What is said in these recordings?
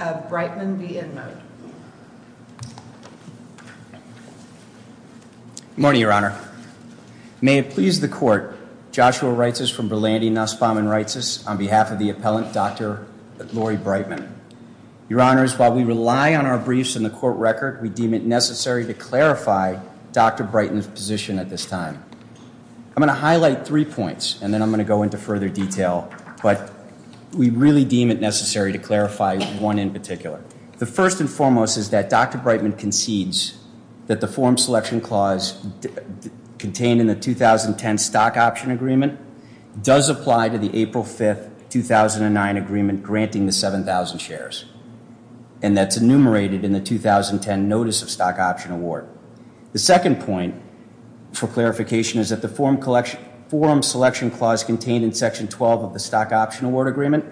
of Brightman v. InMode. Good morning, Your Honor. May it please the Court, Joshua Reitzis from Berlandi Nussbaum & Reitzis on behalf of the appellant, Dr. Lori Brightman. Your Honors, while we rely on our briefs and the court record, we deem it necessary to clarify Dr. Brightman's position at this time. I'm going to highlight three points and then I'm really deem it necessary to clarify one in particular. The first and foremost is that Dr. Brightman concedes that the forum selection clause contained in the 2010 stock option agreement does apply to the April 5th, 2009 agreement granting the 7,000 shares. And that's enumerated in the 2010 notice of stock option award. The second point for clarification is that the forum selection clause contained in section 12 of the stock option award agreement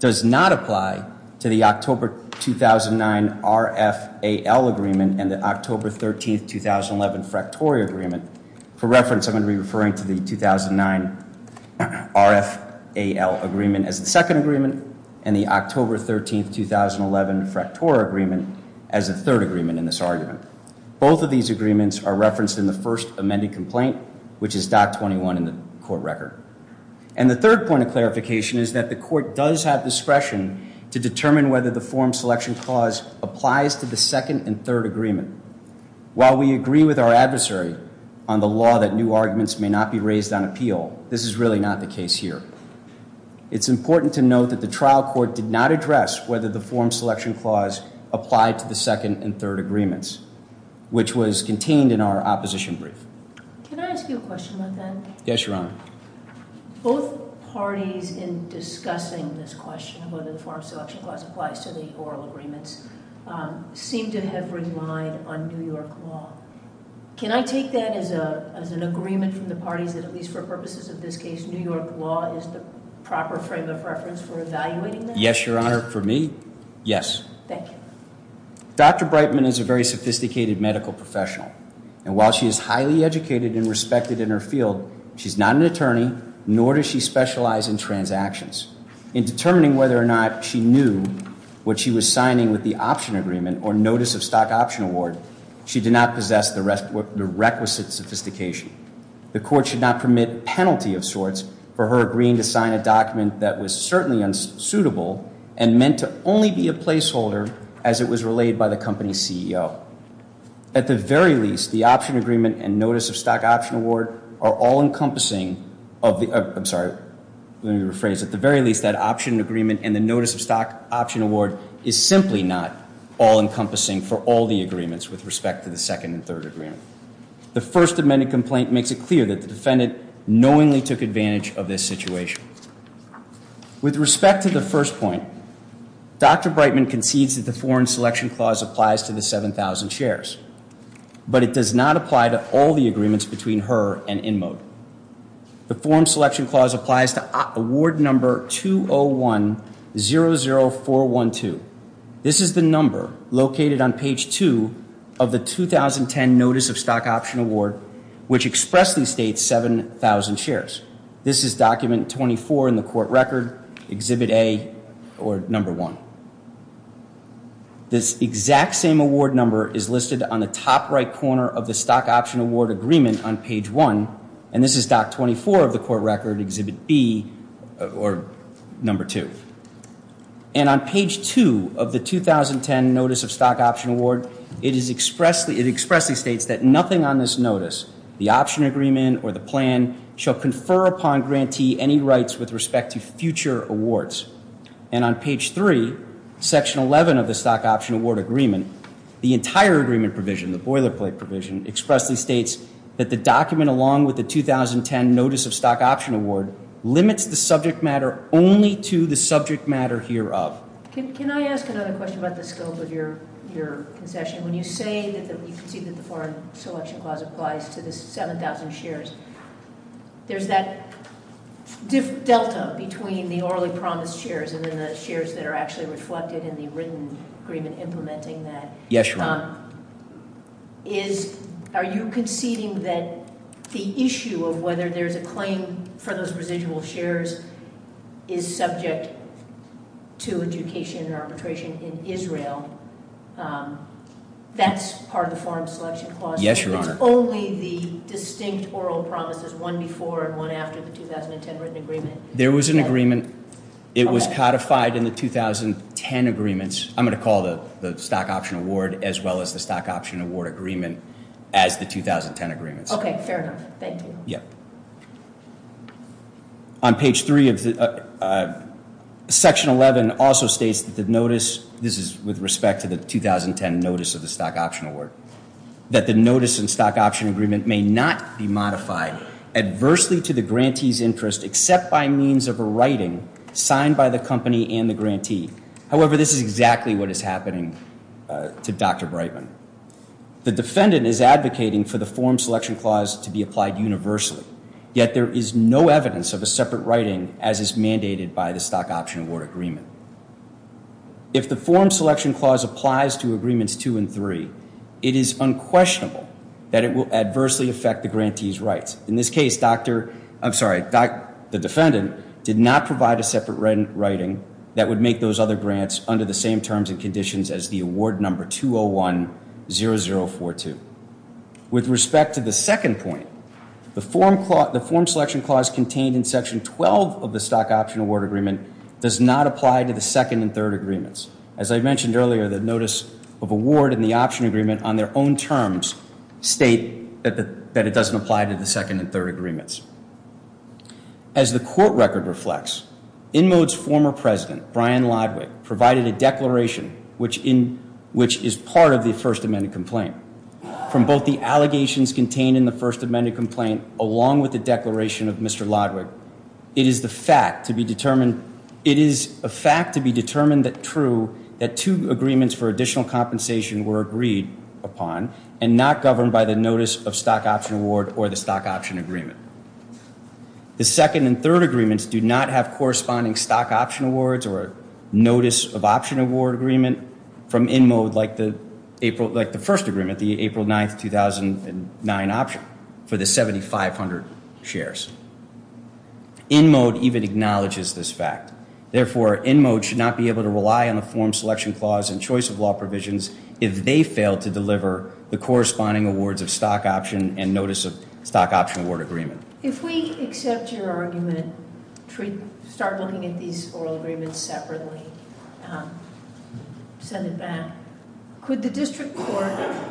does not apply to the October 2009 RFAL agreement and the October 13th, 2011 Fractori agreement. For reference, I'm going to be referring to the 2009 RFAL agreement as the second agreement and the October 13th, 2011 Fractori agreement as the third agreement in this argument. Both of these agreements are referenced in the first amended complaint, which is Doc 21 in the court record. And the third point of clarification is that the court does have discretion to determine whether the forum selection clause applies to the second and third agreement. While we agree with our adversary on the law that new arguments may not be raised on appeal, this is really not the case here. It's important to note that the trial court did not address whether the forum selection clause applied to the second and third agreements, which was contained in our opposition brief. Can I ask you a question about that? Yes, Your Honor. Both parties in discussing this question of whether the forum selection clause applies to the oral agreements seem to have relied on New York law. Can I take that as a as an agreement from the parties that at least for purposes of this case, New York law is the proper frame of reference for evaluating Yes, Your Honor. For me, yes. Thank you. Dr. Brightman is a very sophisticated medical professional. And while she is highly educated and respected in her field, she's not an attorney, nor does she specialize in transactions. In determining whether or not she knew what she was signing with the option agreement or notice of stock option award, she did not possess the requisite sophistication. The court should not permit penalty of sorts for her agreeing to sign a document that was certainly unsuitable and meant to only be a placeholder as it was relayed by the company CEO. At the very least, the option agreement and notice of stock option award are all encompassing of the, I'm sorry, let me rephrase, at the very least that option agreement and the notice of stock option award is simply not all encompassing for all the agreements with respect to the second and third agreement. The first amended complaint makes it clear that the defendant knowingly took advantage of this situation. With respect to the first point, Dr. Brightman concedes that the foreign selection clause applies to the 7,000 shares, but it does not apply to all the agreements between her and Inmode. The foreign selection clause applies to award number 201-00412. This is the number located on page two of the 2010 notice of stock option award, which expressly states 7,000 shares. This is document 24 in the court record, exhibit A or number one. This exact same award number is listed on the top right corner of the stock option award agreement on page one, and this is doc 24 of the court record, exhibit B or number two. And on page two of the 2010 notice of stock option award, it is expressly, it expressly states that nothing on this notice, the option agreement or the plan, shall confer upon grantee any rights with respect to future awards. And on page three, section 11 of the stock option award agreement, the entire agreement provision, the boilerplate provision, expressly states that the document along with the 2010 notice of stock option award limits the subject matter only to the subject matter hereof. Can I ask another question about the scope of your concession? When you say that you concede that the foreign selection clause applies to the 7,000 shares, there's that delta between the orally promised shares and then the shares that are actually reflected in the written agreement implementing that. Yes, Your Honor. Are you conceding that the issue of whether there's a claim for those residual shares is subject to adjudication or arbitration in Israel? That's part of the foreign selection clause? Yes, Your Honor. It's only the distinct oral promises, one before and one after the 2010 written agreement? There was an agreement. It was codified in the 2010 agreements. I'm going to call the stock option award as well as the stock option award agreement as the 2010 agreements. Okay, fair enough. Thank you. Yeah. On page three of the section 11 also states that the notice, this is with respect to the 2010 notice of the stock option award, that the notice and stock option agreement may not be modified adversely to the grantee's interest except by means of a writing signed by the company and the grantee. However, this is exactly what is happening to Dr. Brightman. The defendant is advocating for the foreign selection clause to be applied universally, yet there is no evidence of a separate writing as is mandated by the stock option award agreement. If the foreign selection clause applies to agreements two and three, it is unquestionable that it will adversely affect the grantee's rights. In this case, Dr., I'm sorry, the defendant did not provide a separate writing that would make those other grants under the same terms and conditions as the award number 201-0042. With respect to the second point, the foreign selection clause contained in section 12 of the stock option award agreement does not apply to the second and third agreements. As I mentioned earlier, the notice of award and the option agreement on their own terms state that it doesn't apply to the second and third agreements. As the court record reflects, Inmode's former president, Brian Lodwig, provided a declaration which is part of the First Amendment complaint. From both the allegations contained in the First Amendment complaint along with the declaration of Mr. Lodwig, it is the fact to be determined, it is a fact to be determined that true that two agreements for additional compensation were agreed upon and not governed by the notice of stock option award or the stock option agreement. The second and third agreements do not have corresponding stock option awards or notice of option award agreement from Inmode like the April, like the first agreement, the April 9, 2009 option for the 7,500 shares. Inmode even acknowledges this fact. Therefore, Inmode should not be able to rely on the foreign selection clause and choice of law provisions if they fail to deliver the corresponding awards of stock option and notice of stock option award agreement. If we accept your argument, start looking at these oral agreements separately, um, send it back. Could the district court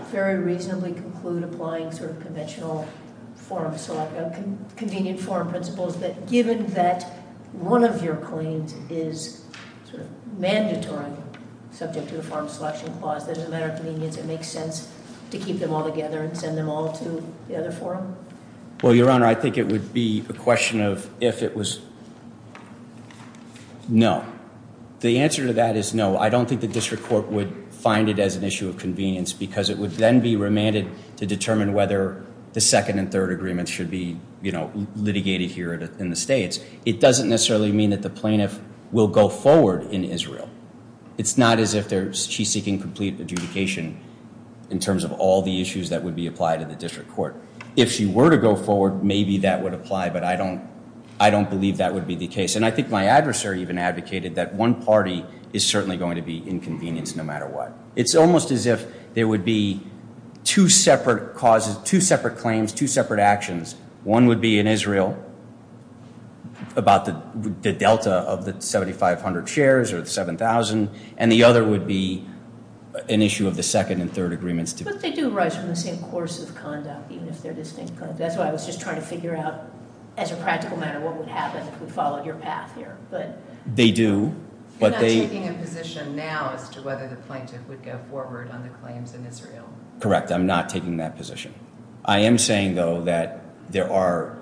very reasonably conclude applying sort of conventional forum select, uh, convenient forum principles that given that one of your claims is sort of mandatory subject to the foreign selection clause, that as a matter of convenience, it makes sense to keep them all together and send them all to the other forum? Well, Your Honor, I think it would be a question of if it was, no, the answer to that is no. I don't think the district court would find it as an issue of convenience because it would then be remanded to determine whether the second and third agreements should be, you know, litigated here in the States. It doesn't necessarily mean that the plaintiff will go forward in Israel. It's not as if they're, she's seeking complete adjudication in terms of all the issues that would be applied to the district court. If she were to go forward, maybe that would apply, but I don't, I don't believe that would be the case. And I think my adversary even advocated that one party is certainly going to be inconvenienced no matter what. It's almost as if there would be two separate causes, two separate claims, two separate actions. One would be in Israel about the delta of the 7,500 shares or 7,000 and the other would be an issue of the second and third agreements. But they do arise from the same course of conduct, even if they're distinct. That's why I was just trying to figure out as a practical matter, what would happen if we followed your path here, but. They do, but they. You're not taking a position now as to whether the plaintiff would go forward on the claims in Israel. Correct. I'm not taking that position. I am saying though that there are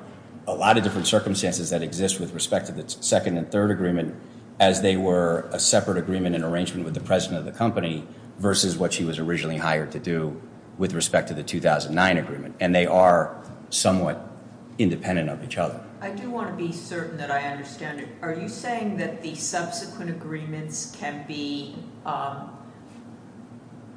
a lot of different circumstances that exist with respect to the second and third agreement as they were a separate agreement in arrangement with the president of the company versus what he was originally hired to do with respect to the 2009 agreement. And they are somewhat independent of each other. I do want to be certain that I understand it. Are you saying that the subsequent agreements can be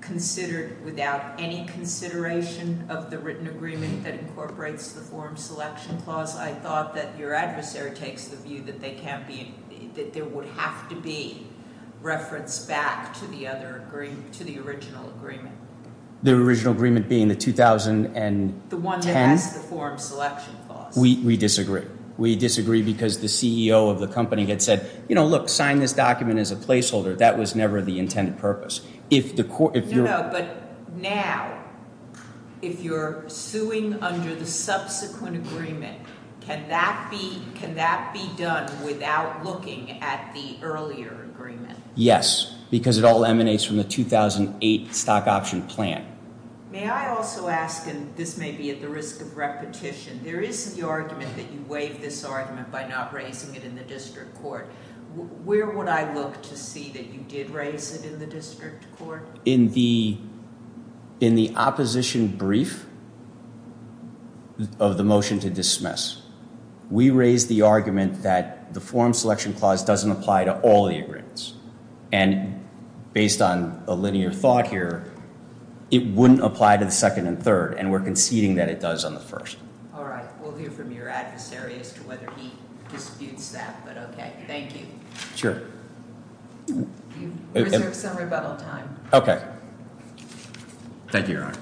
considered without any consideration of the written agreement that incorporates the forum selection clause? I thought that your adversary takes the view that that there would have to be reference back to the original agreement. The original agreement being the 2010? The one that has the forum selection clause. We disagree. We disagree because the CEO of the company had said, you know, look, sign this document as a placeholder. That was never the intended purpose. No, no, but now if you're suing under the subsequent agreement, can that be done without looking at the earlier agreement? Yes, because it all emanates from the 2008 stock option plan. May I also ask, and this may be at the risk of repetition, there is the argument that you waive this argument by not raising it in the district court. Where would I look to see that you did raise it in the district court? In the opposition brief of the motion to dismiss. We raised the argument that the forum selection clause doesn't apply to all the agreements, and based on a linear thought here, it wouldn't apply to the second and third, and we're conceding that it does on the first. All right, we'll hear from your adversary as to whether he disputes that, but okay. Thank you. Sure. Reserve some rebuttal time. Okay. Thank you, Your Honor.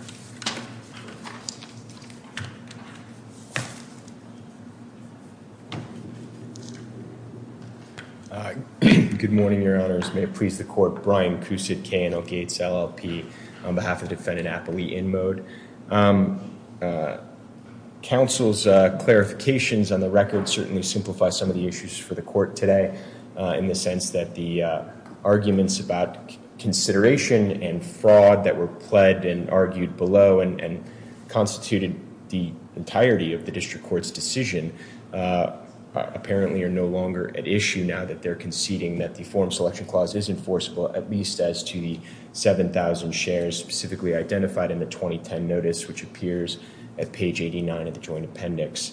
Good morning, Your Honors. May it please the court, Brian Cousett, KNL Gates, LLP, on behalf of defendant Appley Inmode. Counsel's clarifications on the record certainly simplify some of the issues for the court today in the sense that the arguments about consideration and fraud that were pled and argued below and constituted the entirety of the district court's decision apparently are no longer at issue now that they're conceding that the forum selection clause is enforceable, at least as to the 7,000 shares specifically identified in the 2010 notice, which appears at page 89 of the joint appendix.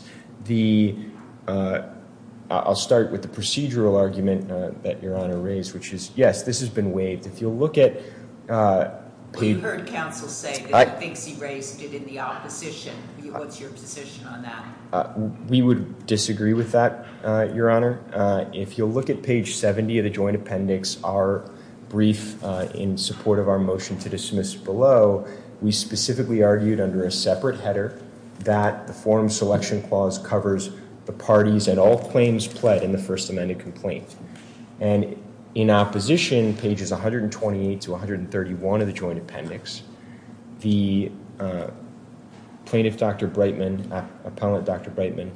I'll start with the procedural argument that you'll look at... We've heard counsel say that he thinks he raised it in the opposition. What's your position on that? We would disagree with that, Your Honor. If you'll look at page 70 of the joint appendix, our brief in support of our motion to dismiss below, we specifically argued under a separate header that the forum selection clause covers the parties and all claims pled in the first amended complaint. And in opposition, pages 128 to 131 of the joint appendix, the plaintiff, Dr. Brightman, appellant Dr. Brightman,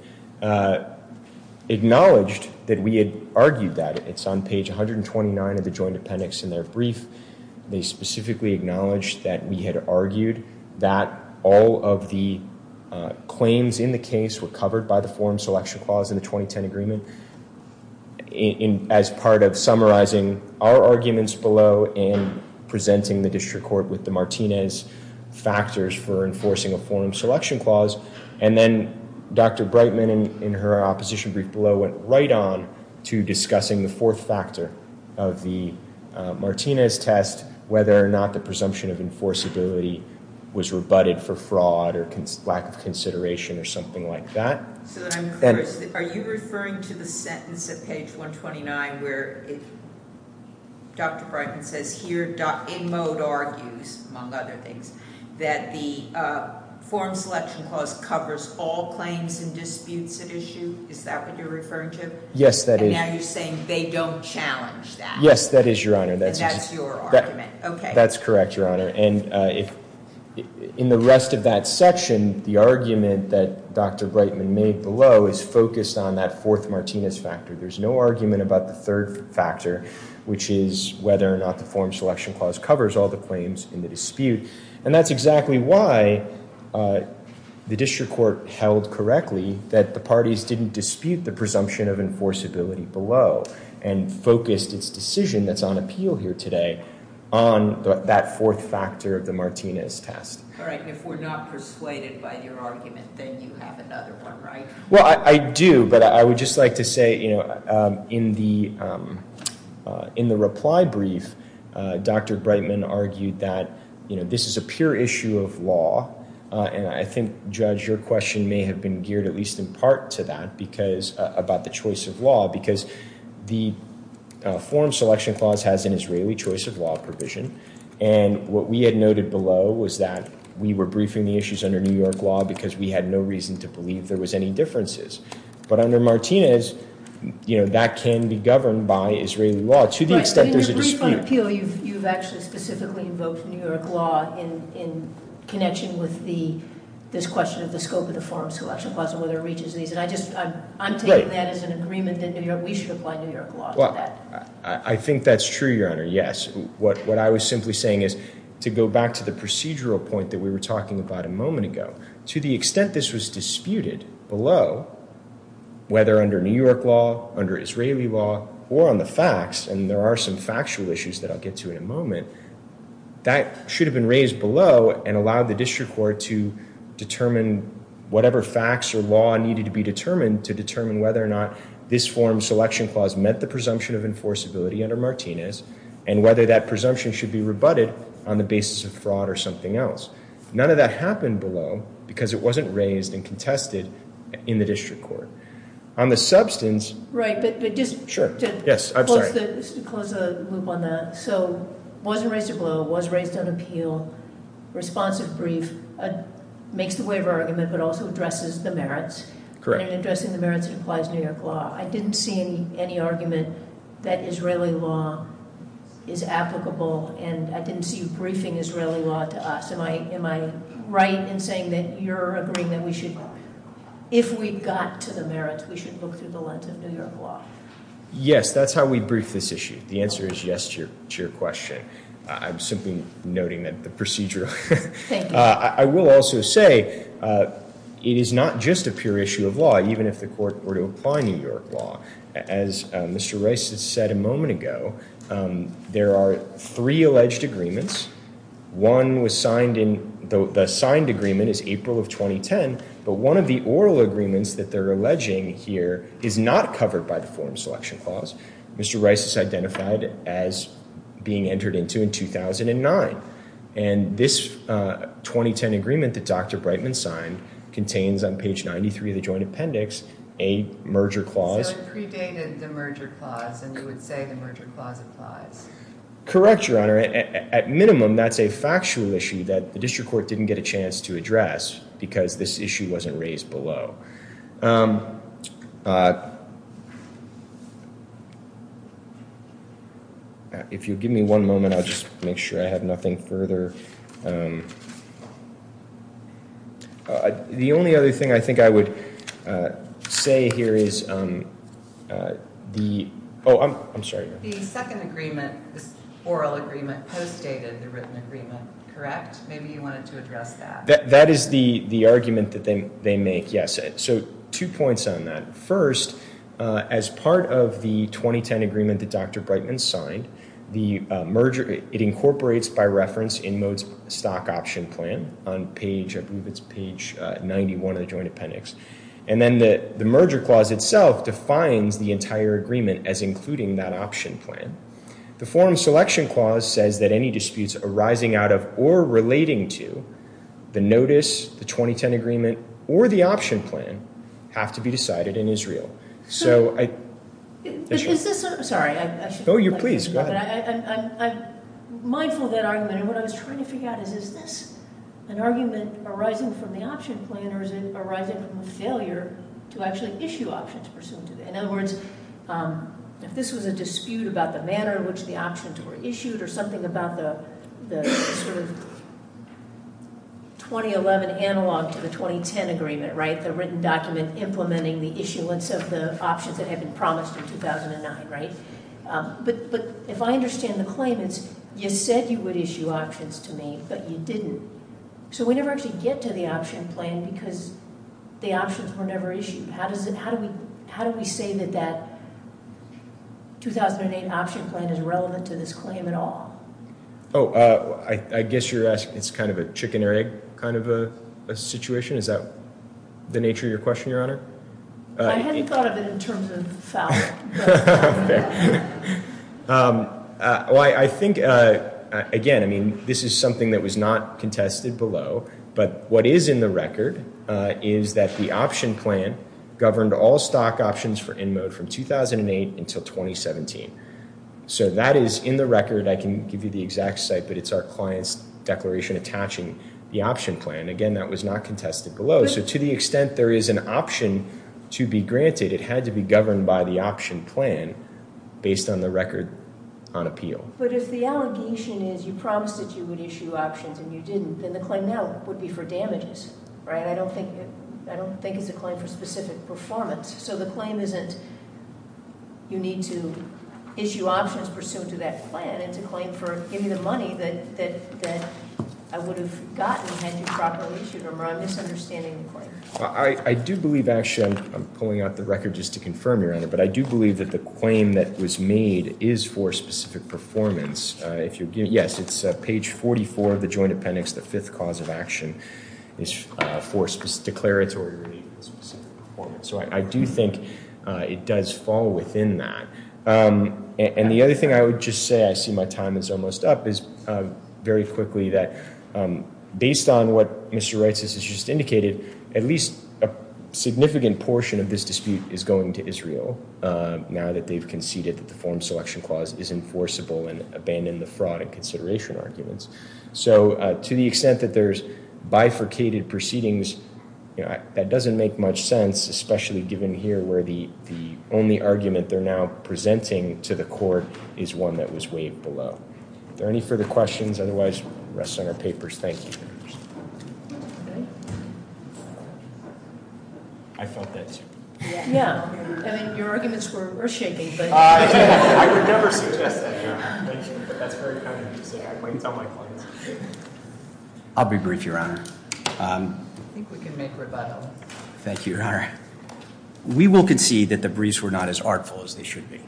acknowledged that we had argued that. It's on page 129 of the joint appendix in their brief. They specifically acknowledged that we had argued that all of the claims in the case were covered by the forum selection clause in the in as part of summarizing our arguments below and presenting the district court with the Martinez factors for enforcing a forum selection clause. And then Dr. Brightman in her opposition brief below went right on to discussing the fourth factor of the Martinez test, whether or not the presumption of enforceability was rebutted for fraud or lack of consideration or something like that. So are you referring to the sentence at page 129 where Dr. Brightman says here in mode argues among other things that the forum selection clause covers all claims and disputes at issue? Is that what you're referring to? Yes, that is. Now you're saying they don't challenge that. Yes, that is your honor. That's your argument. Okay, that's correct, your honor. And in the rest of that section, the argument that Dr. Brightman made below is focused on that fourth Martinez factor. There's no argument about the third factor, which is whether or not the forum selection clause covers all the claims in the dispute. And that's exactly why the district court held correctly that the parties didn't dispute the presumption of enforceability below and focused its decision that's on appeal here today on that fourth factor of the Martinez test. All right, if we're not persuaded by your argument, then you have another one, right? Well, I do, but I would just like to say, you know, in the reply brief, Dr. Brightman argued that, you know, this is a pure issue of law. And I think, Judge, your question may have been geared at least in part to that because about the choice of law, because the forum selection clause has an Israeli choice of provision. And what we had noted below was that we were briefing the issues under New York law because we had no reason to believe there was any differences. But under Martinez, you know, that can be governed by Israeli law to the extent there's a dispute. In your brief on appeal, you've actually specifically invoked New York law in connection with this question of the scope of the forum selection clause and whether it reaches these. And I just, I'm taking that as an agreement that New York, Well, I think that's true, Your Honor. Yes. What I was simply saying is to go back to the procedural point that we were talking about a moment ago, to the extent this was disputed below, whether under New York law, under Israeli law, or on the facts, and there are some factual issues that I'll get to in a moment, that should have been raised below and allowed the district court to determine whatever facts or law needed to be determined to determine whether or not this forum selection clause meant the presumption of enforceability under Martinez and whether that presumption should be rebutted on the basis of fraud or something else. None of that happened below because it wasn't raised and contested in the district court. On the substance, Right, but just to close the loop on that, so wasn't raised below, was raised on appeal, responsive brief, makes the waiver argument, but also addresses the merits. Correct. And addressing the merits implies New York law. I didn't see any argument that Israeli law is applicable and I didn't see you briefing Israeli law to us. Am I right in saying that you're agreeing that we should, if we got to the merits, we should look through the lens of New York law? Yes, that's how we brief this issue. The answer is yes to your question. I'm simply noting that procedure. I will also say it is not just a pure issue of law, even if the court were to apply New York law. As Mr. Rice has said a moment ago, there are three alleged agreements. One was signed in, the signed agreement is April of 2010, but one of the oral agreements that they're alleging here is not covered by the forum selection clause. Mr. Rice is identified as being entered into in 2009 and this 2010 agreement that Dr. Brightman signed contains on page 93 of the joint appendix a merger clause. So it predated the merger clause and you would say the merger clause applies? Correct, Your Honor. At minimum, that's a factual issue that the district court didn't get a chance to address because this issue wasn't raised below. If you give me one moment, I'll just make sure I have nothing further. The only other thing I think I would say here is, oh, I'm sorry. The second agreement, this oral agreement, postdated the written agreement, correct? Maybe you wanted to address that. That is the argument that they make, yes. So two points on that. First, as part of the 2010 agreement that Dr. Brightman signed, the merger, it incorporates by reference in Mode's stock option plan on page, I believe it's page 91 of the joint appendix. And then the merger clause itself defines the entire agreement as including that option plan. The forum selection clause says that disputes arising out of or relating to the notice, the 2010 agreement, or the option plan have to be decided in Israel. I'm mindful of that argument and what I was trying to figure out is, is this an argument arising from the option plan or is it arising from a failure to actually issue options pursuant to it? In other words, if this was a dispute about the manner in which the options were issued or something about the sort of 2011 analog to the 2010 agreement, right? The written document implementing the issuance of the options that had been promised in 2009, right? But if I understand the claim, it's you said you would issue options to me, but you didn't. So we never actually get to the option plan because the options were never issued. How do we say that that at all? Oh, I guess you're asking, it's kind of a chicken or egg kind of a situation. Is that the nature of your question, your honor? I hadn't thought of it in terms of foul. Well, I think again, I mean, this is something that was not contested below, but what is in the record is that the option plan governed all stock options for in mode from 2008 until 2017. So that is in the record. I can give you the exact site, but it's our client's declaration attaching the option plan. Again, that was not contested below. So to the extent there is an option to be granted, it had to be governed by the option plan based on the record on appeal. But if the allegation is you promised that you would issue options and you didn't, then the claim now would be for damages, right? I don't think it's a claim for specific performance. So the issue options pursuant to that plan, it's a claim for giving the money that I would have gotten had you properly issued them or I'm misunderstanding the claim. Well, I do believe actually, I'm pulling out the record just to confirm your honor, but I do believe that the claim that was made is for specific performance. Yes, it's page 44 of the joint appendix, the fifth cause of action is for declaratory or even specific performance. So I do think it does fall within that. And the other thing I would just say, I see my time is almost up, is very quickly that based on what Mr. Reutses has just indicated, at least a significant portion of this dispute is going to Israel now that they've conceded that the form selection clause is enforceable and abandon the fraud and consideration arguments. So to the extent that there's bifurcated proceedings, that doesn't make much sense, especially given here where the only argument they're now presenting to the court is one that was weighed below. Are there any further questions? Otherwise, it rests on our papers. Thank you. I felt that too. Yeah, I mean, your arguments were shaking. I'll be brief, your honor. Thank you, your honor. We will concede that the degrees were not as artful as they should be.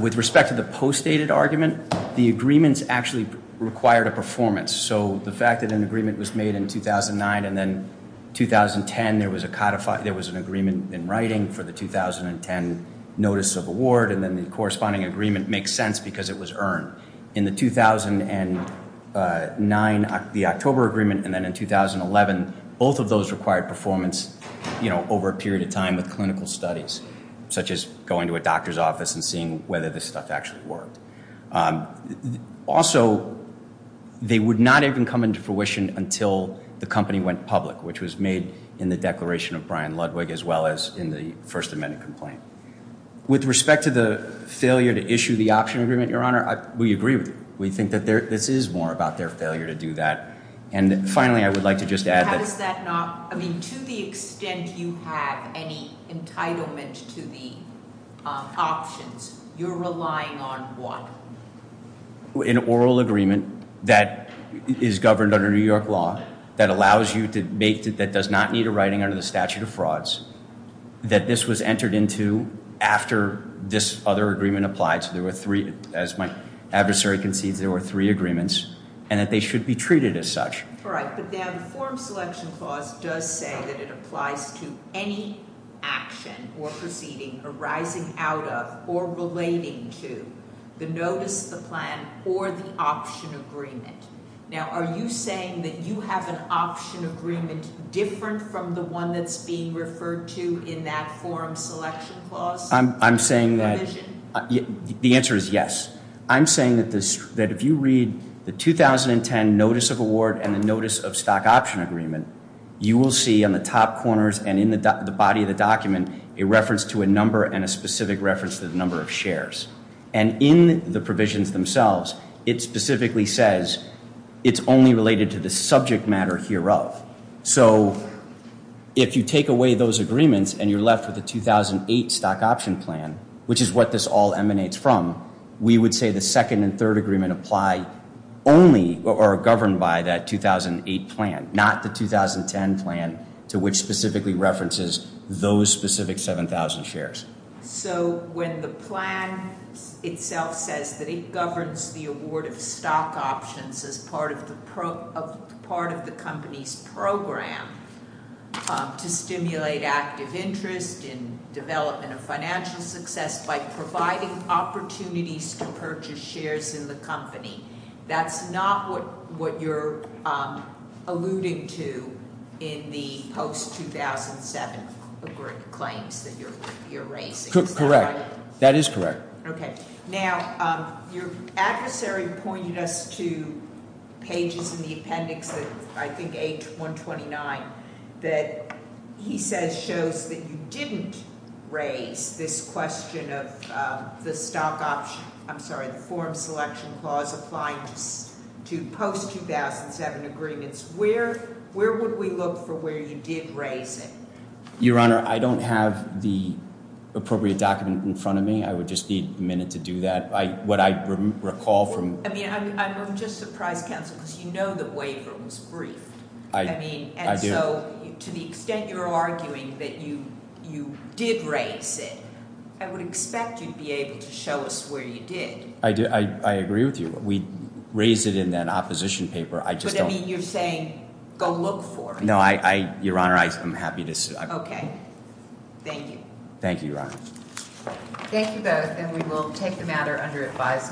With respect to the postdated argument, the agreements actually required a performance. So the fact that an agreement was made in 2009 and then 2010, there was an agreement in writing for the 2010 notice of award, and then the corresponding agreement makes sense because it was earned. In the 2009, the October agreement, and then in 2011, both of those required performance over a period of time with clinical studies, such as going to a doctor's office and seeing whether this stuff actually worked. Also, they would not even come into fruition until the company went public, which was made in the declaration of Brian Ludwig, as well as in the First Amendment complaint. With respect to the failure to issue the option agreement, your honor, we agree with you. We think that this is more about their failure to do that. And finally, I would like to just add that- How is that not- I mean, to the extent you have any entitlement to the options, you're relying on what? An oral agreement that is governed under New York law, that allows you to make- that does not need a writing under the statute of frauds, that this was entered into after this other agreement applied. So there were three, as my adversary concedes, there were three agreements and that they should be treated as such. All right, but now the Forum Selection Clause does say that it applies to any action or proceeding arising out of or relating to the notice, the plan, or the option agreement. Now, are you saying that you have an option agreement different from the one that's being referred to in that Forum Selection Clause provision? I'm saying that- The answer is yes. I'm saying that if you read the 2010 notice of award and the notice of stock option agreement, you will see on the top corners and in the body of the document a reference to a number and a specific reference to the number of shares. And in the provisions themselves, it specifically says it's only related to the subject matter hereof. So if you take away those agreements and you're left with the 2008 stock option plan, which is what this all emanates from, we would say the second and third agreement apply only or are governed by that 2008 plan, not the 2010 plan to which specifically references those specific 7,000 shares. So when the plan itself says that it governs the award of stock options as part of the part of the company's program to stimulate active interest in development of financial success by providing opportunities to purchase shares in the company, that's not what you're alluding to in the post-2007 claims that you're raising. Correct. That is correct. Okay. Now, your adversary pointed us to pages in the appendix, I think A129, that he says shows that you didn't raise this question of the stock option, I'm sorry, the form selection clause applying to post-2007 agreements. Where would we look for where you did raise it? Your Honor, I don't have the appropriate document in front of me. I would just need a minute to do that. What I recall from- I mean, I'm just surprised, counsel, because you know the waiver was briefed. I mean, and so to the extent you're arguing that you did raise it, I would expect you'd be able to show us where you did. I agree with you. We raised it in that opposition paper. I just don't- But I mean, you're saying go look for it. Your Honor, I'm happy to- Okay. Thank you. Thank you, Your Honor. Thank you both, and we will take the matter under advisement.